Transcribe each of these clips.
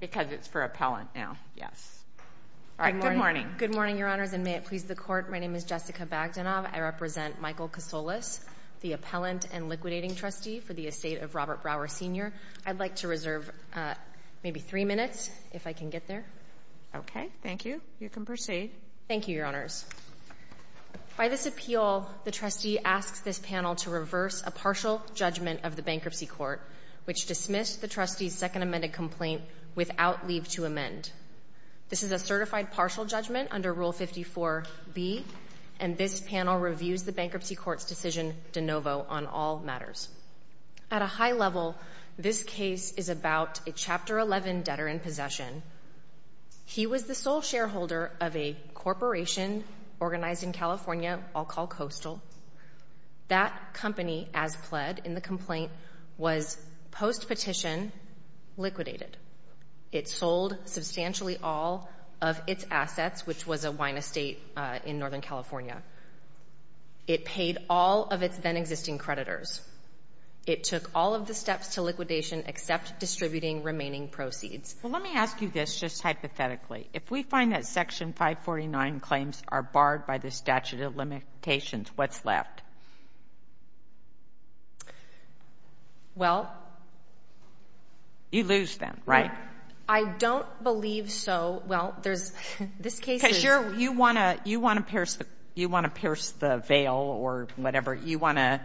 Because it's for appellant now, yes. Good morning. Good morning, Your Honors, and may it please the Court, my name is Jessica Bagdanov. I represent Michael Kasolas, the appellant and liquidating trustee for the estate of Robert Brower Sr. I'd like to reserve maybe three minutes, if I can get there. Okay, thank you. You can proceed. Thank you, Your Honors. By this appeal, the trustee asks this panel to reverse a partial judgment of the bankruptcy court, which dismissed the trustee's second amended complaint without leave to amend. This is a certified partial judgment under Rule 54B, and this panel reviews the bankruptcy court's decision de novo on all matters. At a high level, this case is about a Chapter 11 debtor in possession. He was the sole shareholder of a corporation organized in California, I'll call Coastal. That company, as pled in the complaint, was post-petition liquidated. It sold substantially all of its assets, which was a wine estate in Northern California. It paid all of its then-existing creditors. It took all of the steps to liquidation except distributing remaining proceeds. Well, let me ask you this just hypothetically. If we find that Section 549 claims are barred by the statute of limitations, what's left? Well. You lose them, right? I don't believe so. Well, there's — this case is — Because you're — you want to — you want to pierce the — you want to pierce the veil or whatever. You want to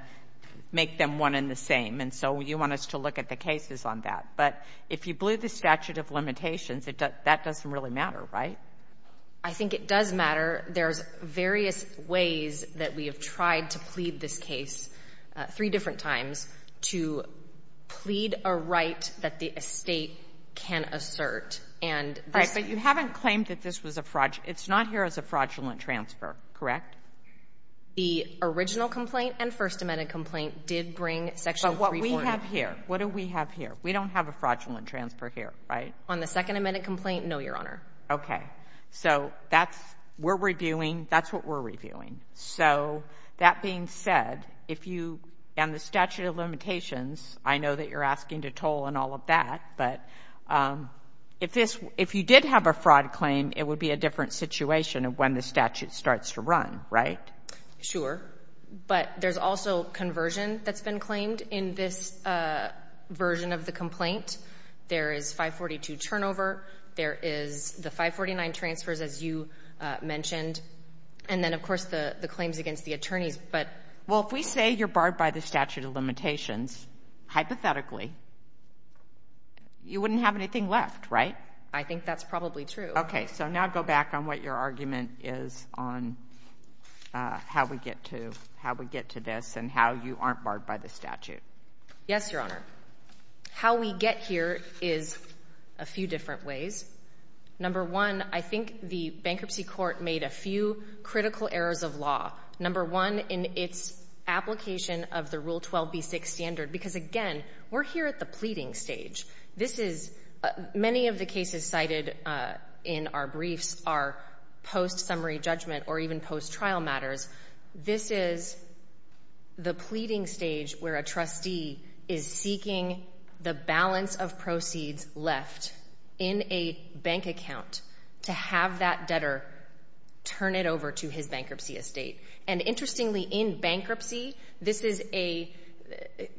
make them one and the same, and so you want us to look at the cases on that. But if you blew the statute of limitations, that doesn't really matter, right? I think it does matter. There's various ways that we have tried to plead this case, three different times, to plead a right that the estate can assert. And this — Right. But you haven't claimed that this was a fraudulent — it's not here as a fraudulent transfer, correct? The original complaint and First Amendment complaint did bring Section 349. But what we have here, what do we have here? We don't have a fraudulent transfer here, right? On the Second Amendment complaint, no, Your Honor. Okay. So that's — we're reviewing — that's what we're reviewing. So that being said, if you — and the statute of limitations, I know that you're asking to toll and all of that, but if this — if you did have a fraud claim, it would be a different situation when the statute starts to run, right? Sure. But there's also conversion that's been claimed in this version of the complaint. There is 542 turnover. There is the 549 transfers, as you mentioned. And then, of course, the claims against the attorneys, but — Well, if we say you're barred by the statute of limitations, hypothetically, you wouldn't have anything left, right? I think that's probably true. Okay. So now go back on what your argument is on how we get to this and how you aren't barred by the statute. Yes, Your Honor. How we get here is a few different ways. Number one, I think the Bankruptcy Court made a few critical errors of law. Number one, in its application of the Rule 12b6 standard, because, again, we're here at the pleading stage. This is — many of the cases cited in our briefs are post-summary judgment or even post-trial matters. This is the pleading stage where a trustee is seeking the balance of proceeds left in a bank account to have that debtor turn it over to his bankruptcy estate. And interestingly, in bankruptcy, this is a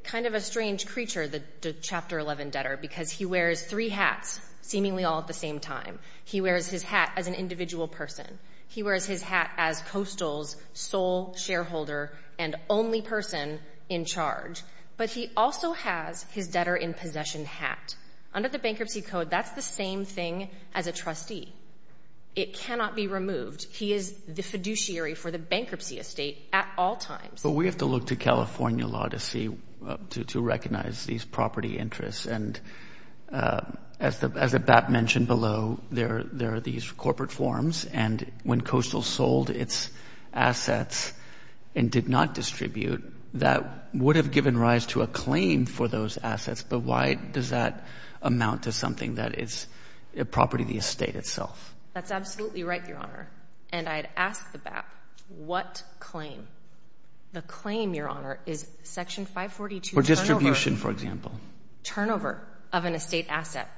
kind of a strange creature, the Chapter 11 debtor, because he wears three hats, seemingly all at the same time. He wears his hat as an individual person. He wears his hat as Coastal's sole shareholder and only person in charge. But he also has his debtor-in-possession hat. Under the Bankruptcy Code, that's the same thing as a trustee. It cannot be removed. He is the fiduciary for the bankruptcy estate at all times. But we have to look to California law to see — to recognize these property interests. And as the — as the BAP mentioned below, there are these corporate forms. And when Coastal sold its assets and did not distribute, that would have given rise to a claim for those assets. But why does that amount to something that is a property of the estate itself? That's absolutely right, Your Honor. And I'd ask the BAP, what claim? The claim, Your Honor, is Section 542 — For distribution, for example. — turnover of an estate asset,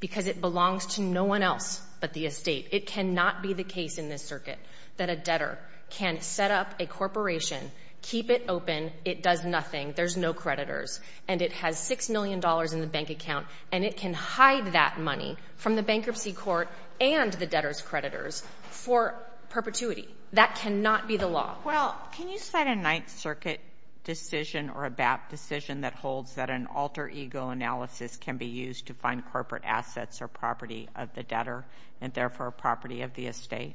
because it belongs to no one else but the estate. It cannot be the case in this circuit that a debtor can set up a corporation, keep it open, it does nothing, there's no creditors, and it has $6 million in the bank account, and it can hide that money from the bankruptcy court and the debtor's creditors for perpetuity. That cannot be the law. Well, can you cite a Ninth Circuit decision or a BAP decision that holds that an alter ego analysis can be used to find corporate assets or property of the debtor, and therefore property of the estate?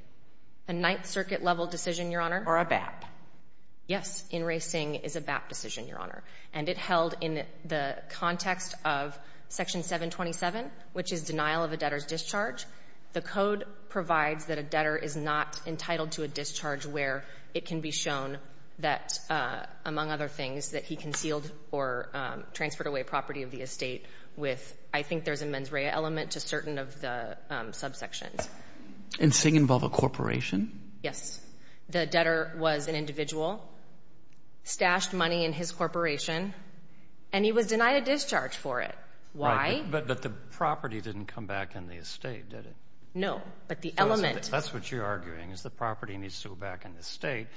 A Ninth Circuit-level decision, Your Honor? Or a BAP? Yes. In racing is a BAP decision, Your Honor. And it held in the context of Section 727, which is denial of a debtor's discharge. The code provides that a debtor is not entitled to a discharge where it can be shown that, among other things, that he concealed or transferred away property of the estate with — I think there's a mens rea element to certain of the subsections. And does it involve a corporation? Yes. The debtor was an individual. Stashed money in his corporation. And he was denied a discharge for it. Why? But the property didn't come back in the estate, did it? No. But the element — That's what you're arguing, is the property needs to go back in the estate,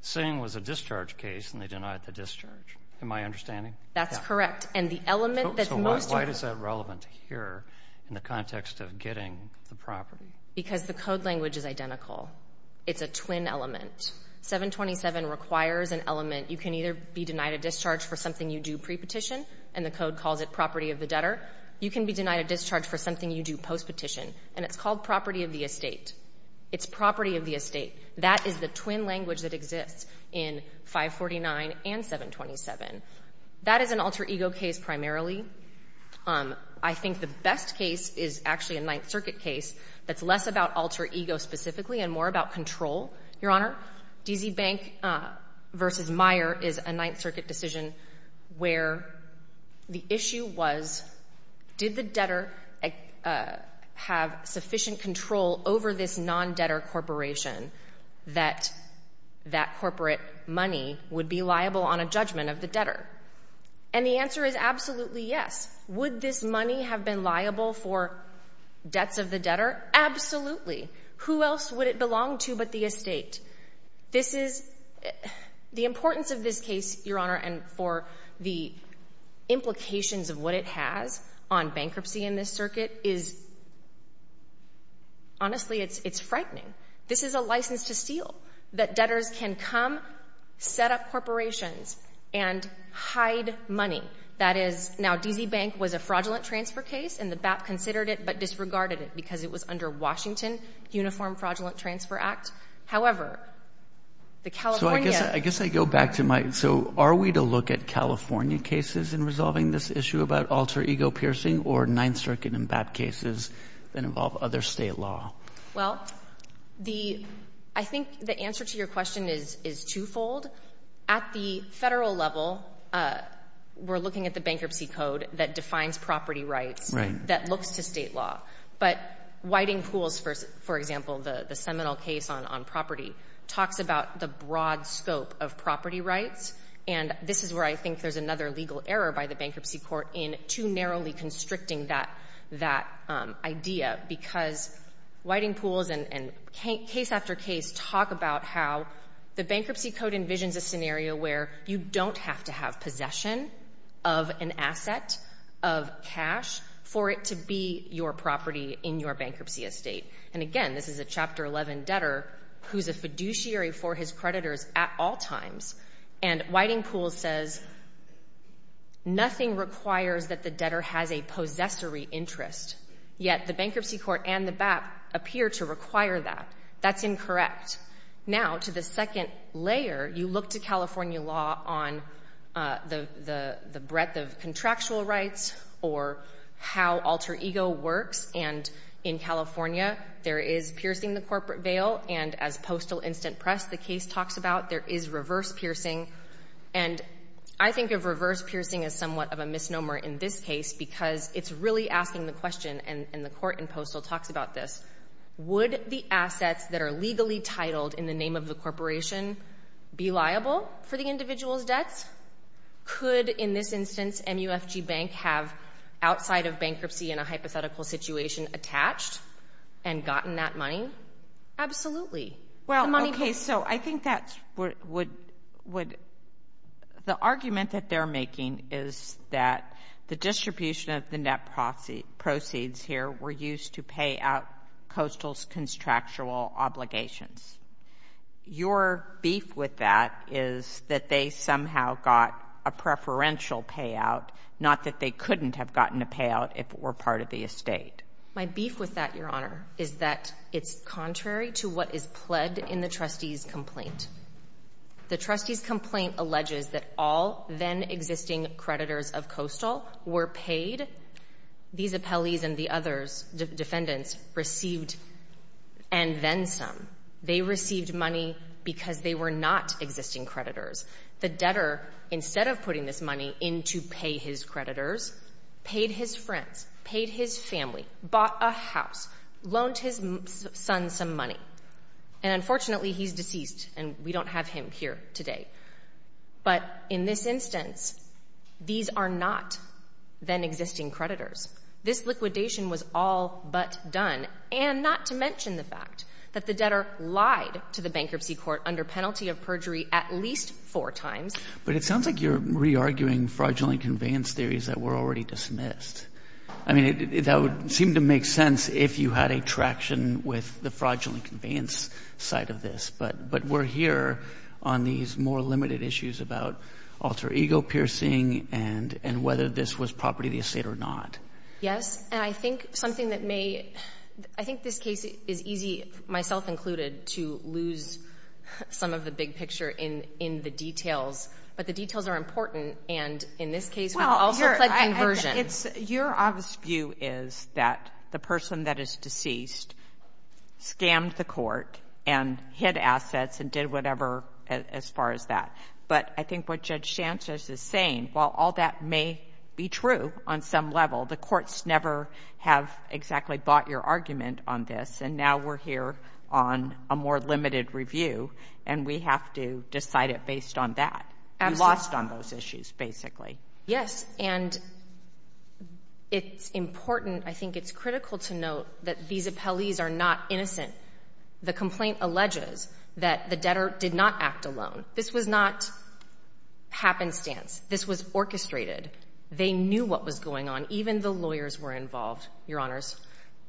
saying it was a discharge case, and they denied the discharge. Am I understanding? Yeah. That's correct. And the element that's most — So why is that relevant here in the context of getting the property? Because the code language is identical. It's a twin element. 727 requires an element. You can either be denied a discharge for something you do prepetition, and the code calls it property of the debtor. You can be denied a discharge for something you do postpetition. And it's called property of the estate. It's property of the estate. That is the twin language that exists in 549 and 727. That is an alter ego case primarily. I think the best case is actually a Ninth Circuit case that's less about alter ego specifically and more about control, Your Honor. D.Z. Bank v. Meyer is a Ninth Circuit decision where the issue was, did the debtor have sufficient control over this non-debtor corporation that that corporate money would be liable on a judgment of the debtor? And the answer is absolutely yes. Would this money have been liable for debts of the debtor? Absolutely. Who else would it belong to but the estate? This is—the importance of this case, Your Honor, and for the implications of what it has on bankruptcy in this circuit is—honestly, it's frightening. This is a license to steal that debtors can come, set up corporations, and hide money. That is—now, D.Z. Bank was a fraudulent transfer case, and the BAP considered it but disregarded it because it was under Washington Uniform Fraudulent Transfer Act. However, the California— So I guess I go back to my—so are we to look at California cases in resolving this issue about alter ego piercing or Ninth Circuit and BAP cases that involve other state law? Well, the—I think the answer to your question is twofold. At the federal level, we're looking at the bankruptcy code that defines property rights that looks to state law. But Whiting Pools, for example, the seminal case on property, talks about the broad scope of property rights, and this is where I think there's another legal error by the bankruptcy court in too narrowly constricting that idea because Whiting Pools and case after case talk about how the bankruptcy code envisions a scenario where you don't have to have property in your bankruptcy estate. And again, this is a Chapter 11 debtor who's a fiduciary for his creditors at all times, and Whiting Pools says nothing requires that the debtor has a possessory interest, yet the bankruptcy court and the BAP appear to require that. That's incorrect. Now, to the second layer, you look to California law on the breadth of contractual rights or how alter ego works, and in California, there is piercing the corporate veil, and as Postal Instant Press, the case talks about, there is reverse piercing. And I think of reverse piercing as somewhat of a misnomer in this case because it's really asking the question, and the court in Postal talks about this, would the assets that are legally titled in the name of the corporation be liable for the individual's debts? Could, in this instance, MUFG Bank have, outside of bankruptcy in a hypothetical situation, attached and gotten that money? Absolutely. Well, okay, so I think that would, the argument that they're making is that the distribution of the net proceeds here were used to pay out Coastal's contractual obligations. Your beef with that is that they somehow got a preferential payout, not that they couldn't have gotten a payout if it were part of the estate. My beef with that, Your Honor, is that it's contrary to what is pledged in the trustee's complaint. The trustee's complaint alleges that all then-existing creditors of Coastal were paid. These appellees and the other defendants received and then some. They received money because they were not existing creditors. The debtor, instead of putting this money in to pay his creditors, paid his friends, paid his family, bought a house, loaned his son some money. And unfortunately, he's deceased, and we don't have him here today. But in this instance, these are not then-existing creditors. This liquidation was all but done, and not to mention the fact that the debtor lied to the bankruptcy court under penalty of perjury at least four times. But it sounds like you're re-arguing fraudulent conveyance theories that were already dismissed. I mean, that would seem to make sense if you had a traction with the fraudulent conveyance side of this. But we're here on these more limited issues about alter ego piercing and whether this was property of the estate or not. Yes. And I think something that may — I think this case is easy, myself included, to lose some of the big picture in the details. But the details are important. And in this case, we also pled conversion. Your obvious view is that the person that is deceased scammed the court and hid assets and did whatever as far as that. But I think what Judge Sanchez is saying, while all that may be true on some level, the courts never have exactly bought your argument on this. And now we're here on a more limited review, and we have to decide it based on that. You lost on those issues, basically. Yes. And it's important — I think it's critical to note that these appellees are not innocent. The complaint alleges that the debtor did not act alone. This was not happenstance. This was orchestrated. They knew what was going on. Even the lawyers were involved, Your Honors.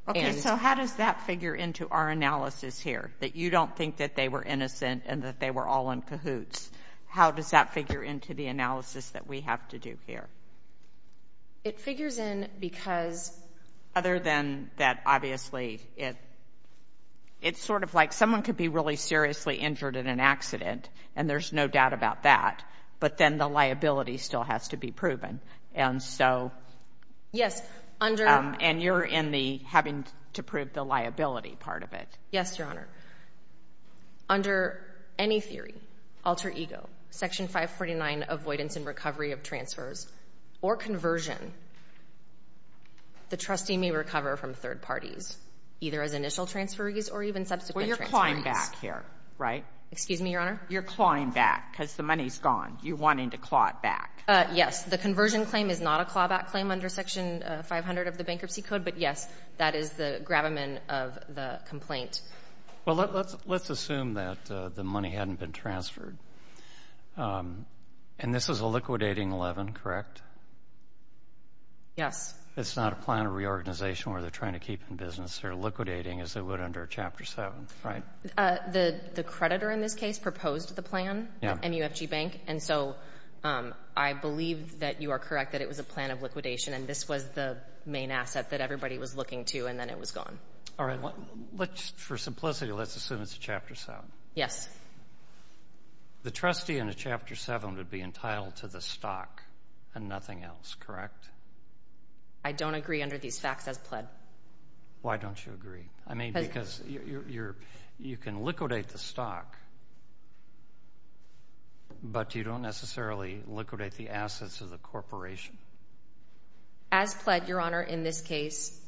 Okay. So how does that figure into our analysis here, that you don't think that they were innocent and that they were all in cahoots? How does that figure into the analysis that we have to do here? It figures in because — Other than that, obviously, it's sort of like someone could be really seriously injured in an accident, and there's no doubt about that, but then the liability still has to be proven. And so — Yes, under — And you're in the having to prove the liability part of it. Yes, Your Honor. Under any theory, alter ego, Section 549, avoidance and recovery of transfers, or conversion, the trustee may recover from third parties, either as initial transferees or even subsequent transferees. Well, you're clawing back here, right? Excuse me, Your Honor? You're clawing back because the money's gone. You're wanting to claw it back. Yes. The conversion claim is not a clawback claim under Section 500 of the bankruptcy code, but, yes, that is the gravamen of the complaint. Well, let's assume that the money hadn't been transferred. And this is a liquidating 11, correct? Yes. It's not a plan of reorganization where they're trying to keep in business. They're liquidating as they would under Chapter 7, right? The creditor in this case proposed the plan at MUFG Bank, and so I believe that you are correct that it was a plan of liquidation, and this was the main asset that everybody was looking to, and then it was gone. All right. Let's, for simplicity, let's assume it's Chapter 7. Yes. The trustee under Chapter 7 would be entitled to the stock and nothing else, correct? I don't agree under these facts as pled. Why don't you agree? I mean, because you can liquidate the stock, but you don't necessarily liquidate the assets of the corporation. As pled, Your Honor, in this case,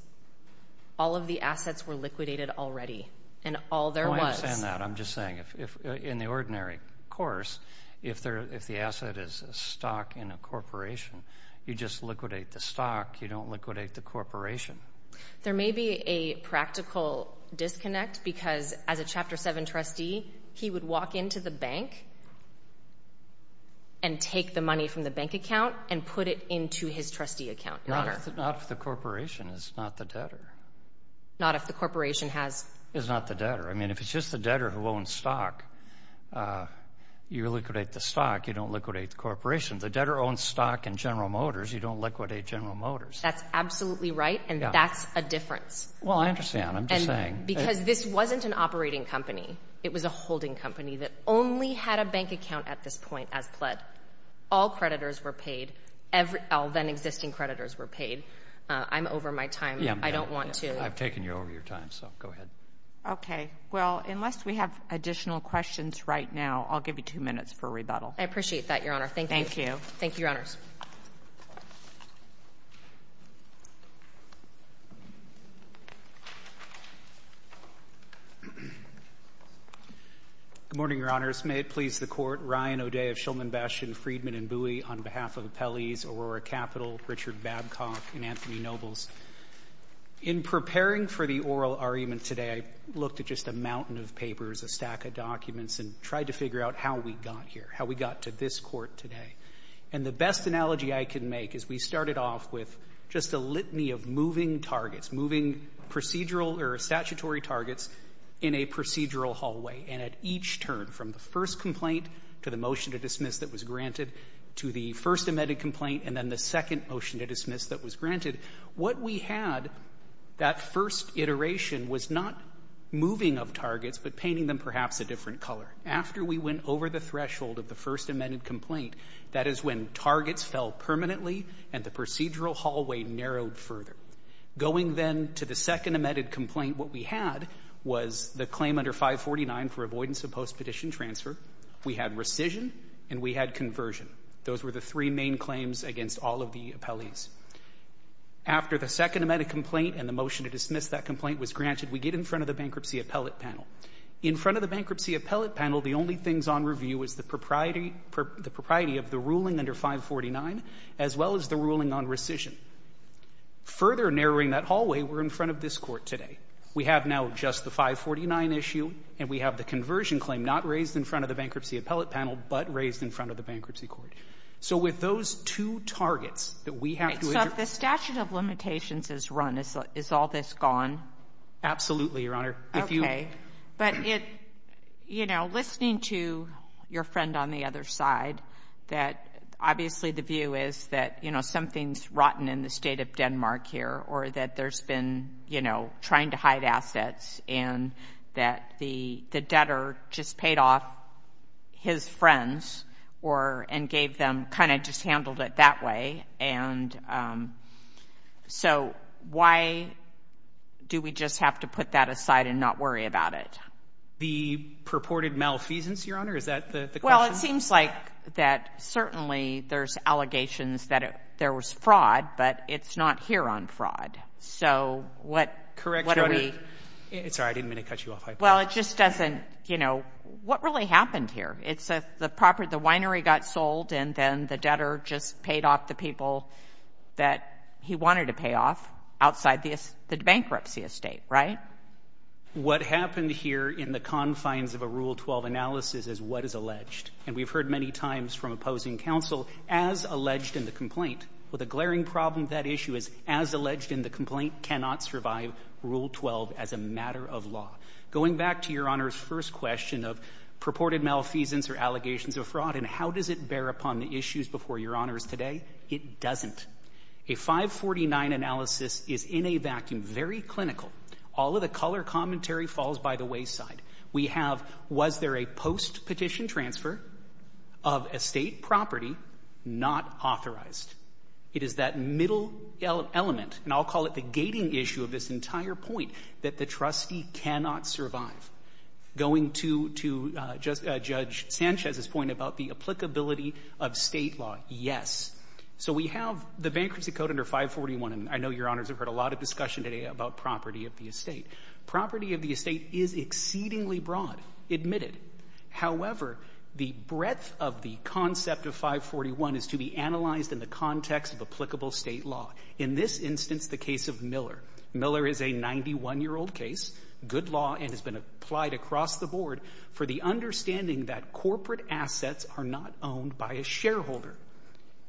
all of the assets were liquidated already, and all there was. I understand that. I'm just saying, in the ordinary course, if the asset is a stock in a corporation, you just liquidate the stock. You don't liquidate the corporation. There may be a practical disconnect because, as a Chapter 7 trustee, he would be entitled to the stock, he would walk into the bank and take the money from the bank account and put it into his trustee account, Your Honor. Not if the corporation is not the debtor. Not if the corporation has... Is not the debtor. I mean, if it's just the debtor who owns stock, you liquidate the stock, you don't liquidate the corporation. The debtor owns stock in General Motors. You don't liquidate General Motors. That's absolutely right, and that's a difference. Well, I understand. I'm just saying. Because this wasn't an operating company. It was a holding company that only had a bank account at this point as pled. All creditors were paid. All then-existing creditors were paid. I'm over my time. I don't want to... I've taken you over your time, so go ahead. Okay. Well, unless we have additional questions right now, I'll give you two minutes for a rebuttal. I appreciate that, Your Honor. Thank you. Thank you, Your Honors. Good morning, Your Honors. May it please the Court. Ryan O'Day of Shulman Bastion, Friedman & Bowie, on behalf of appellees Aurora Capital, Richard Babcock, and Anthony Nobles. In preparing for the oral argument today, I looked at just a mountain of papers, a stack of documents, and tried to figure out how we got here, how we got to this point. And the best analogy I can make is we started off with just a litany of moving targets, moving procedural or statutory targets in a procedural hallway. And at each turn, from the first complaint to the motion to dismiss that was granted to the first amended complaint and then the second motion to dismiss that was granted, what we had that first iteration was not moving of targets, but painting them perhaps a different color. After we went over the threshold of the first amended complaint, that is when targets fell permanently and the procedural hallway narrowed further. Going then to the second amended complaint, what we had was the claim under 549 for avoidance of post-petition transfer. We had rescission, and we had conversion. Those were the three main claims against all of the appellees. After the second amended complaint and the motion to dismiss that complaint was granted, we get in front of the bankruptcy appellate panel. In front of the bankruptcy appellate panel, the only things on review is the propriety of the ruling under 549, as well as the ruling on rescission. Further narrowing that hallway, we're in front of this Court today. We have now just the 549 issue, and we have the conversion claim not raised in front of the bankruptcy appellate panel, but raised in front of the bankruptcy Court. So with those two targets that we have to address — So if the statute of limitations is run, is all this gone? Absolutely, Your Honor. Okay. But it — you know, listening to your friend on the other side, that obviously the view is that, you know, something's rotten in the state of Denmark here, or that there's been, you know, trying to hide assets, and that the debtor just paid off his friends and gave them — kind of just handled it that way. And so why do we just have to put that aside and not worry about it? The purported malfeasance, Your Honor? Is that the question? Well, it seems like that certainly there's allegations that there was fraud, but it's not here on fraud. So what are we — Correct, Your Honor. It's all right. I didn't mean to cut you off. Well, it just doesn't — you know, what really happened here? It's the property — the winery got sold, and then the debtor just paid off the people that he wanted to pay off outside the bankruptcy estate, right? What happened here in the confines of a Rule 12 analysis is what is alleged. And we've heard many times from opposing counsel, as alleged in the complaint. With a glaring problem, that issue is, as alleged in the complaint, cannot survive Rule 12 as a matter of law. Going back to Your Honor's first question of purported malfeasance or allegations of fraud and how does it bear upon the issues before Your Honors today, it doesn't. A 549 analysis is in a vacuum, very clinical. All of the color commentary falls by the wayside. We have, was there a post-petition transfer of estate property not authorized? It is that middle element, and I'll call it the gating issue of this entire point, that the trustee cannot survive. Going to Judge Sanchez's point about the applicability of State law, yes. So we have the Bankruptcy Code under 541, and I know Your Honors have heard a lot of discussion today about property of the estate. Property of the estate is exceedingly broad, admitted. However, the breadth of the concept of 541 is to be analyzed in the context of applicable State law. In this instance, the case of Miller. Miller is a 91-year-old case, good law, and has been applied across the board for the understanding that corporate assets are not owned by a shareholder.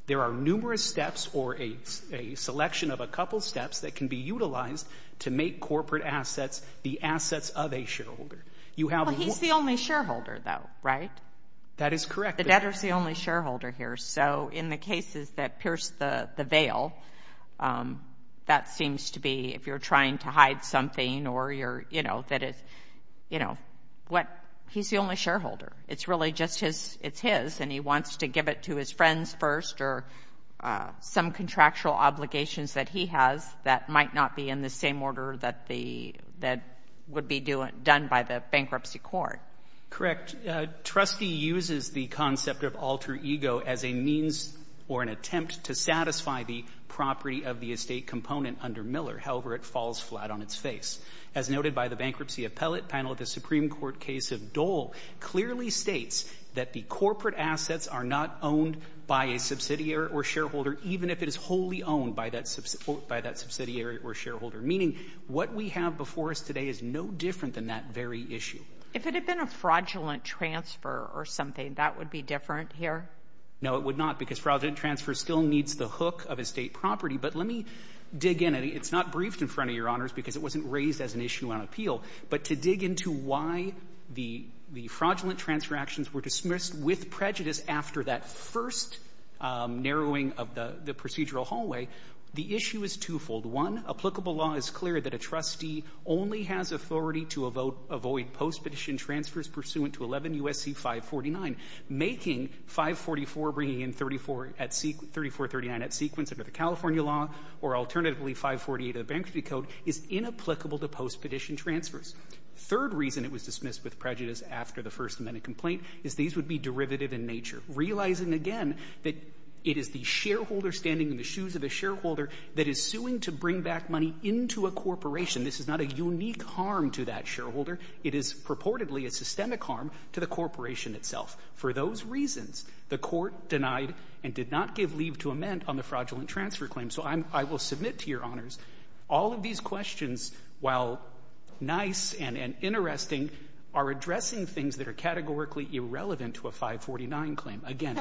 There are numerous steps or a selection of a couple steps that can be utilized to make corporate assets the assets of a shareholder. You have— Well, he's the only shareholder though, right? That is correct. The debtor's the only shareholder here. So in the cases that pierce the veil, that seems to be if you're trying to hide something or you're, you know, that it's, you know, what— he's the only shareholder. It's really just his—it's his, and he wants to give it to his friends first or some contractual obligations that he has that might not be in the same order that the—that would be done by the bankruptcy court. Correct. Trustee uses the concept of alter ego as a means or an attempt to satisfy the property of the estate component under Miller. However, it falls flat on its face. As noted by the Bankruptcy Appellate Panel, the Supreme Court case of Dole clearly states that the corporate assets are not owned by a subsidiary or shareholder, even if it is wholly owned by that subsidiary or shareholder, meaning what we have before us today is no different than that very issue. If it had been a fraudulent transfer or something, that would be different here? No, it would not, because fraudulent transfer still needs the hook of estate property. But let me dig in. It's not briefed in front of Your Honors because it wasn't raised as an issue on appeal. But to dig into why the fraudulent transfer actions were dismissed with prejudice after that first narrowing of the procedural hallway, the issue is twofold. One, applicable law is clear that a trustee only has authority to avoid post-petition transfers pursuant to 11 U.S.C. 549. Making 544 bringing in 3439 at sequence under the California law or alternatively 548 of the Bankruptcy Code is inapplicable to post-petition transfers. Third reason it was dismissed with prejudice after the First Amendment complaint is these would be derivative in nature. Realizing again that it is the shareholder standing in the shoes of a shareholder that is suing to bring back money into a corporation. This is not a unique harm to that shareholder. It is purportedly a systemic harm to the corporation itself. For those reasons, the Court denied and did not give leave to amend on the fraudulent transfer claim. So I'm — I will submit to Your Honors, all of these questions, while nice and interesting, are addressing things that are categorically irrelevant to a 549 claim. Again, a —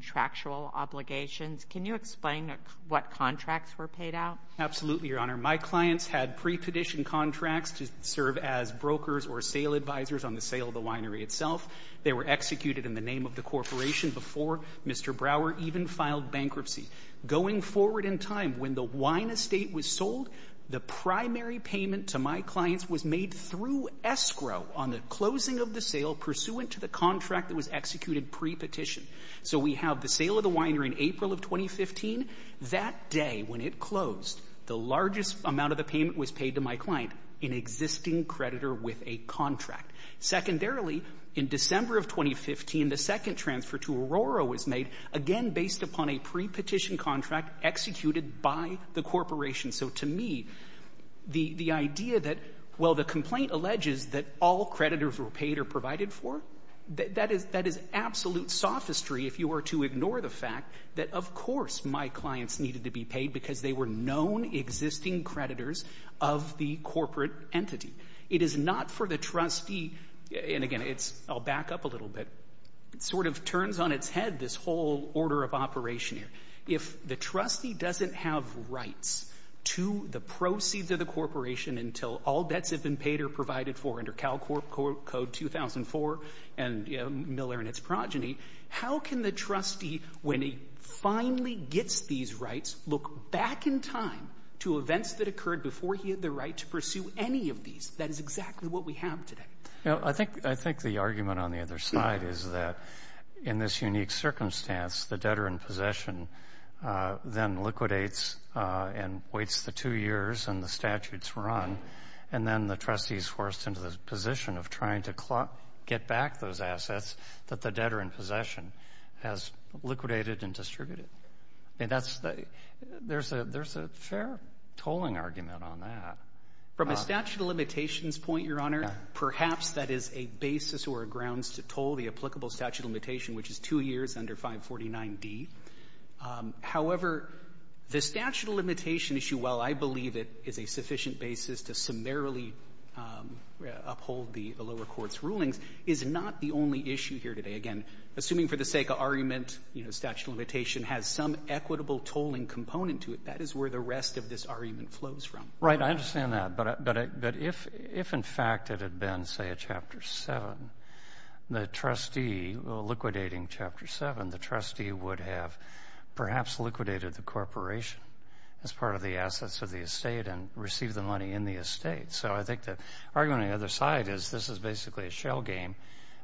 Contractual obligations. Can you explain what contracts were paid out? Absolutely, Your Honor. My clients had pre-petition contracts to serve as brokers or sale advisors on the sale of the winery itself. They were executed in the name of the corporation before Mr. Brower even filed bankruptcy. Going forward in time, when the wine estate was sold, the primary payment to my clients was made through escrow on the closing of the sale pursuant to the contract that was So we have the sale of the winery in April of 2015. That day, when it closed, the largest amount of the payment was paid to my client, an existing creditor with a contract. Secondarily, in December of 2015, the second transfer to Aurora was made, again based upon a pre-petition contract executed by the corporation. So to me, the idea that — well, the complaint alleges that all creditors were paid or if you were to ignore the fact that, of course, my clients needed to be paid because they were known existing creditors of the corporate entity. It is not for the trustee — and again, it's — I'll back up a little bit. It sort of turns on its head this whole order of operation here. If the trustee doesn't have rights to the proceeds of the corporation until all debts have been paid or provided for under CalCorp Code 2004 and Miller and its progeny, how can the trustee, when he finally gets these rights, look back in time to events that occurred before he had the right to pursue any of these? That is exactly what we have today. Well, I think the argument on the other side is that in this unique circumstance, the debtor in possession then liquidates and waits the two years and the statutes run. And then the trustee is forced into the position of trying to get back those assets that the debtor in possession has liquidated and distributed. I mean, that's — there's a fair tolling argument on that. From a statute of limitations point, Your Honor, perhaps that is a basis or a grounds to toll the applicable statute of limitation, which is two years under 549D. However, the statute of limitation issue, while I believe it is a sufficient basis to summarily uphold the lower court's rulings, is not the only issue here today. Again, assuming for the sake of argument, you know, statute of limitation has some equitable tolling component to it. That is where the rest of this argument flows from. Right. I understand that. But if, in fact, it had been, say, a Chapter 7, the trustee — liquidating Chapter 7, the trustee would have perhaps liquidated the corporation as part of the assets of the estate and received the money in the estate. So I think the argument on the other side is this is basically a shell game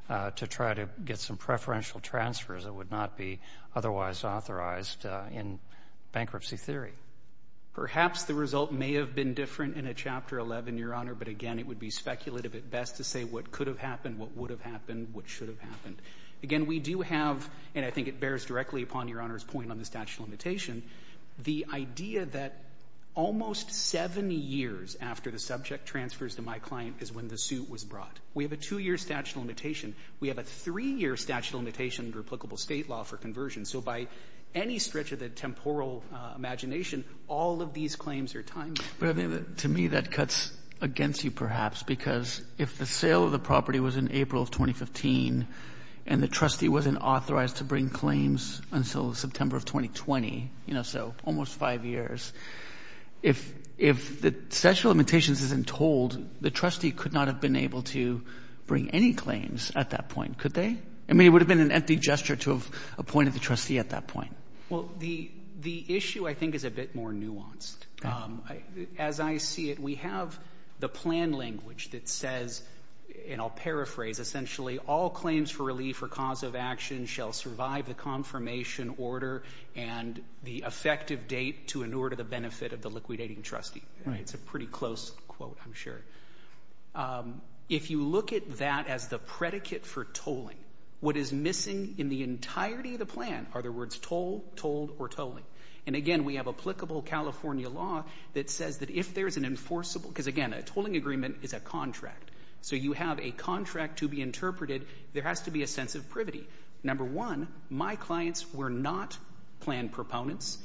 to try to get some preferential transfers that would not be otherwise authorized in bankruptcy theory. Perhaps the result may have been different in a Chapter 11, Your Honor. But again, it would be speculative at best to say what could have happened, what would have happened, what should have happened. Again, we do have — and I think it bears directly upon Your Honor's point on the statute of limitation — the idea that almost seven years after the subject transfers to my client is when the suit was brought. We have a two-year statute of limitation. We have a three-year statute of limitation under applicable State law for conversion. So by any stretch of the temporal imagination, all of these claims are timely. But to me, that cuts against you, perhaps, because if the sale of the property was in April of 2015 and the trustee wasn't authorized to bring claims until September of 2020, you know, so almost five years, if the statute of limitations isn't told, the trustee could not have been able to bring any claims at that point, could they? I mean, it would have been an empty gesture to have appointed the trustee at that point. Well, the issue, I think, is a bit more nuanced. As I see it, we have the plan language that says — and I'll paraphrase — essentially, all claims for relief or cause of action shall survive the confirmation order and the effective date to inure to the benefit of the liquidating trustee. It's a pretty close quote, I'm sure. If you look at that as the predicate for tolling, what is missing in the entirety of the plan are the words toll, told, or tolling. And again, we have applicable California law that says that if there's an enforceable — because, again, a tolling agreement is a contract, so you have a contract to be interpreted, there has to be a sense of privity. Number one, my clients were not plan proponents.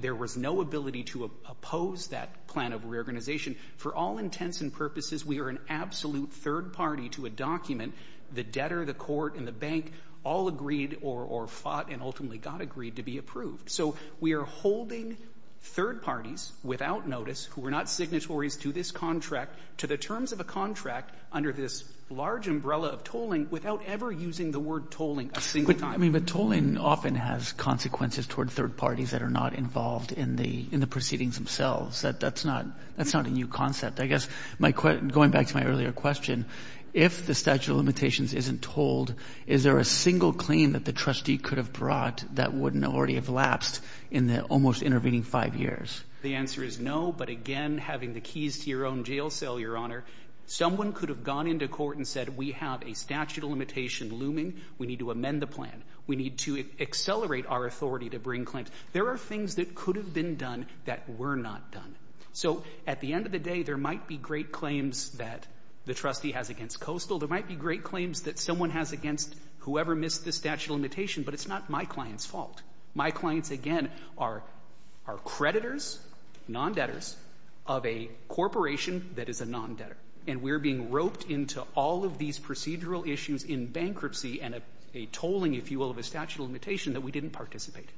There was no ability to oppose that plan of reorganization. For all intents and purposes, we are an absolute third party to a document. The debtor, the court, and the bank all agreed or fought and ultimately got agreed to be approved. So we are holding third parties without notice who were not signatories to this contract to the terms of a contract under this large umbrella of tolling without ever using the word tolling a single time. I mean, but tolling often has consequences toward third parties that are not involved in the — in the proceedings themselves. That's not — that's not a new concept. I guess my — going back to my earlier question, if the statute of limitations isn't told, is there a single claim that the trustee could have brought that wouldn't already have lapsed in the almost intervening five years? The answer is no. But again, having the keys to your own jail cell, Your Honor, someone could have gone into court and said, we have a statute of limitation looming. We need to amend the plan. We need to accelerate our authority to bring claims. There are things that could have been done that were not done. So at the end of the day, there might be great claims that the trustee has against Coastal. There might be great claims that someone has against whoever missed the statute of limitation. But it's not my client's fault. My clients, again, are — are creditors, non-debtors of a corporation that is a non-debtor. And we're being roped into all of these procedural issues in bankruptcy and a tolling, if you will, of a statute of limitation that we didn't participate in.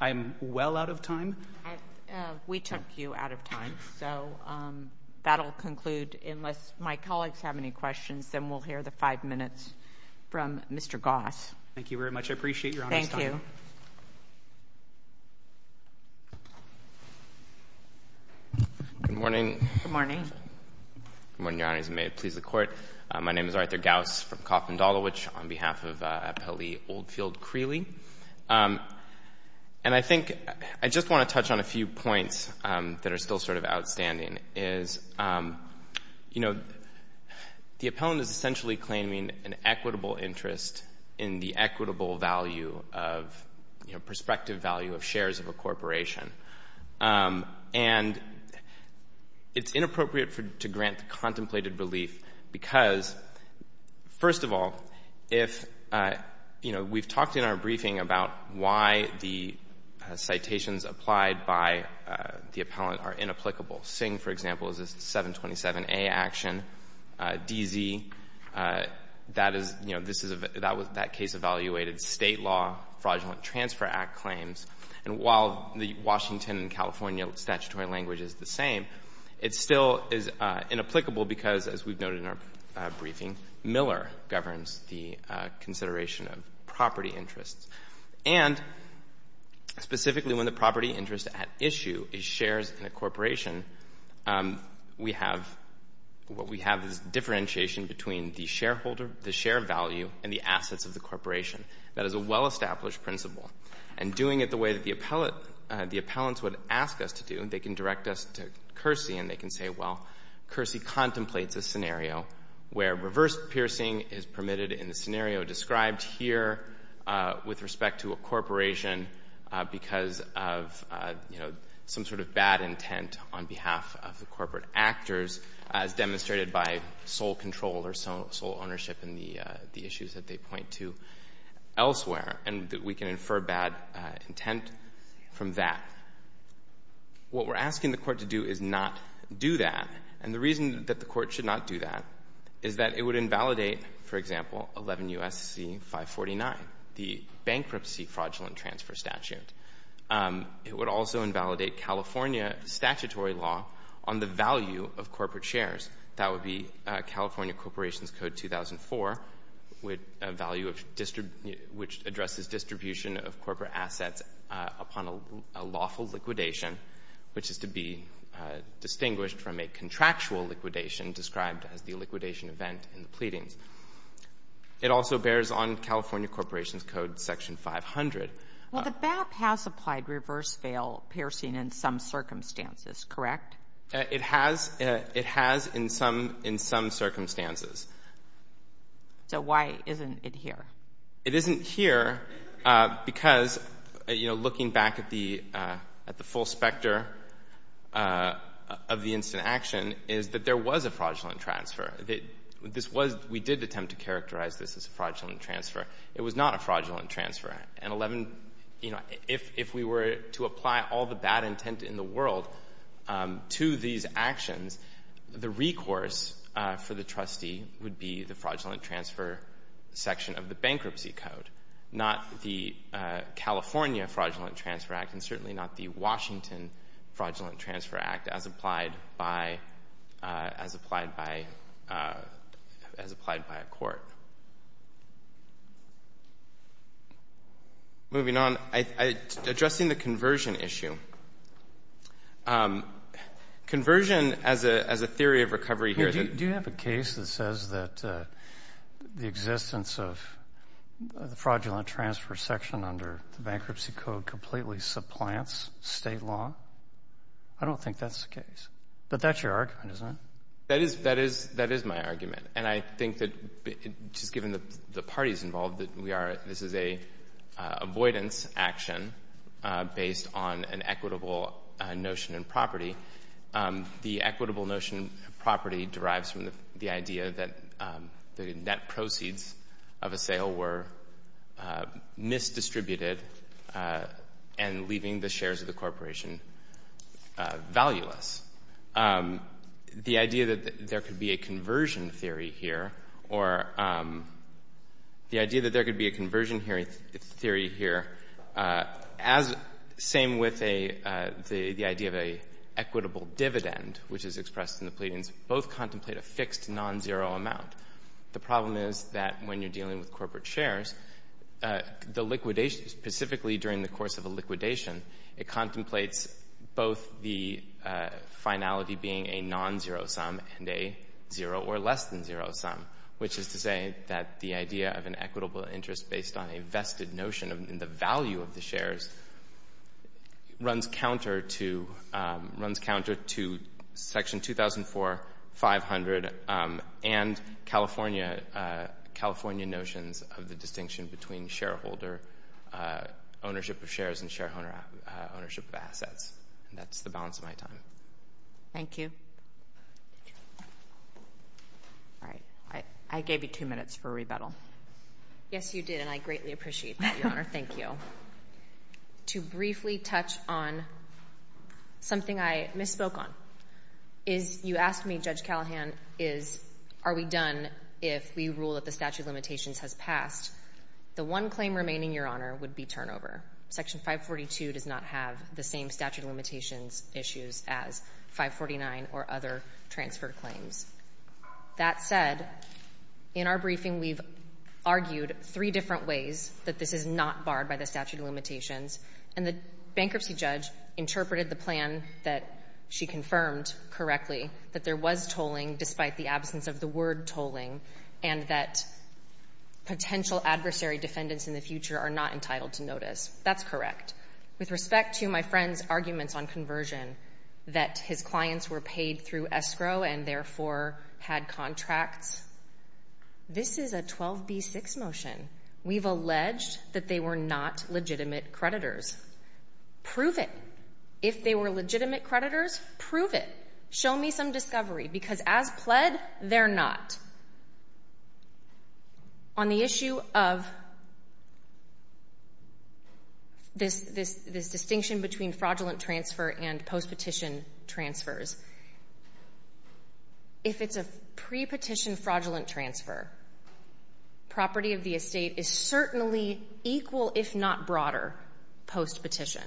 I am well out of time. MS. GOTTLIEB We took you out of time. So that'll conclude. Unless my colleagues have any questions, then we'll hear the five minutes from Mr. Goss. MR. GOSS Thank you very much. I appreciate Your Honor's time. GOTTLIEB Thank you. GOSS Good morning. MS. GOTTLIEB Good morning. MR. GOSS Good morning, Your Honor. As you may please the Court, my name is Arthur Goss from Coffman-Dolowich on behalf of Appellee Oldfield-Creeley. And I think — I just want to touch on a few points that are still sort of outstanding, is, you know, the appellant is essentially claiming an equitable interest in the equitable value of, you know, prospective value of shares of a corporation. And it's inappropriate to grant contemplated relief because, first of all, if — you know, we've talked in our briefing about why the citations applied by the appellant are inapplicable. Sing, for example, is a 727A action. DZ, that is — you know, this is — that case evaluated State law fraudulent transfer act claims. And while the Washington and California statutory language is the same, it still is inapplicable because, as we've noted in our briefing, Miller governs the consideration of property interests. And specifically, when the property interest at issue is shares in a corporation, we have — what we have is differentiation between the shareholder, the share value, and the assets of the corporation. That is a well-established principle. And doing it the way that the appellate — the appellants would ask us to do, they can direct us to Kearsey, and they can say, well, Kearsey contemplates a scenario where reverse piercing is permitted in the scenario described here with respect to a corporation because of, you know, some sort of bad intent on behalf of the corporate actors, as demonstrated by sole control or sole ownership in the issues that they point to elsewhere. And we can infer bad intent from that. What we're asking the court to do is not do that. And the reason that the court should not do that is that it would invalidate, for example, 11 U.S.C. 549, the bankruptcy fraudulent transfer statute. It would also invalidate California statutory law on the value of corporate shares. That would be California Corporations Code 2004, which addresses distribution of corporate assets upon a lawful liquidation, which is to be distinguished from a contractual liquidation described as the liquidation event in the pleadings. It also bears on California Corporations Code Section 500. Well, the BAP has applied reverse veil piercing in some circumstances, correct? It has. It has in some circumstances. So why isn't it here? It isn't here because, you know, looking back at the full specter of the instant action is that there was a fraudulent transfer. We did attempt to characterize this as a fraudulent transfer. It was not a fraudulent transfer. And, you know, if we were to apply all the bad intent in the world to these actions, the recourse for the trustee would be the fraudulent transfer section of the bankruptcy code, not the California Fraudulent Transfer Act and certainly not the Washington Fraudulent Transfer Act as applied by a court. Moving on, addressing the conversion issue. Conversion as a theory of recovery here. Do you have a case that says that the existence of the fraudulent transfer section under the bankruptcy code completely supplants state law? I don't think that's the case. But that's your argument, isn't it? That is my argument. And I think that just given the parties involved, that this is an avoidance action based on an equitable notion in property. The equitable notion in property derives from the idea that the net proceeds of a sale were misdistributed and leaving the shares of the corporation valueless. The idea that there could be a conversion theory here or the idea that there could be a conversion theory here, same with the idea of an equitable dividend, which is expressed in the pleadings, both contemplate a fixed non-zero amount. The problem is that when you're dealing with corporate shares, the liquidation, specifically during the course of a liquidation, it contemplates both the finality being a non-zero sum and a zero or less than zero sum, which is to say that the idea of an equitable interest based on a vested notion in the value of the shares runs counter to section 2400 and California California notions of the distinction between shareholder ownership of shares and shareholder ownership of assets. That's the balance of my time. Thank you. All right. I gave you two minutes for rebuttal. Yes, you did. And I greatly appreciate that, Your Honor. Thank you. To briefly touch on something I misspoke on, is you asked me, Judge Callahan, is are we if we rule that the statute of limitations has passed, the one claim remaining, Your Honor, would be turnover. Section 542 does not have the same statute of limitations issues as 549 or other transfer claims. That said, in our briefing, we've argued three different ways that this is not barred by the statute of limitations. And the bankruptcy judge interpreted the plan that she confirmed correctly, that there was tolling despite the absence of the word tolling, and that potential adversary defendants in the future are not entitled to notice. That's correct. With respect to my friend's arguments on conversion, that his clients were paid through escrow and therefore had contracts, this is a 12b6 motion. We've alleged that they were not legitimate creditors. Prove it. If they were legitimate creditors, prove it. Show me some discovery, because as pled, they're not. On the issue of this distinction between fraudulent transfer and post-petition transfers, if it's a pre-petition fraudulent transfer, property of the estate is certainly equal if not broader post-petition.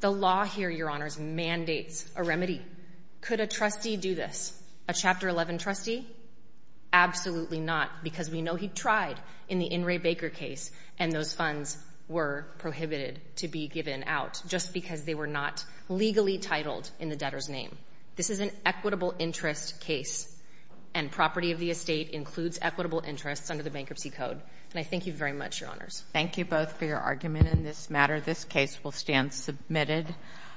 The law here, Your Honors, mandates a remedy. Could a trustee do this? A Chapter 11 trustee? Absolutely not, because we know he tried in the In re Baker case, and those funds were prohibited to be given out just because they were not legally titled in the debtor's name. This is an equitable interest case, and property of the estate includes equitable interests under the Bankruptcy Code. And I thank you very much, Your Honors. Thank you both for your argument in this matter. This case will stand submitted.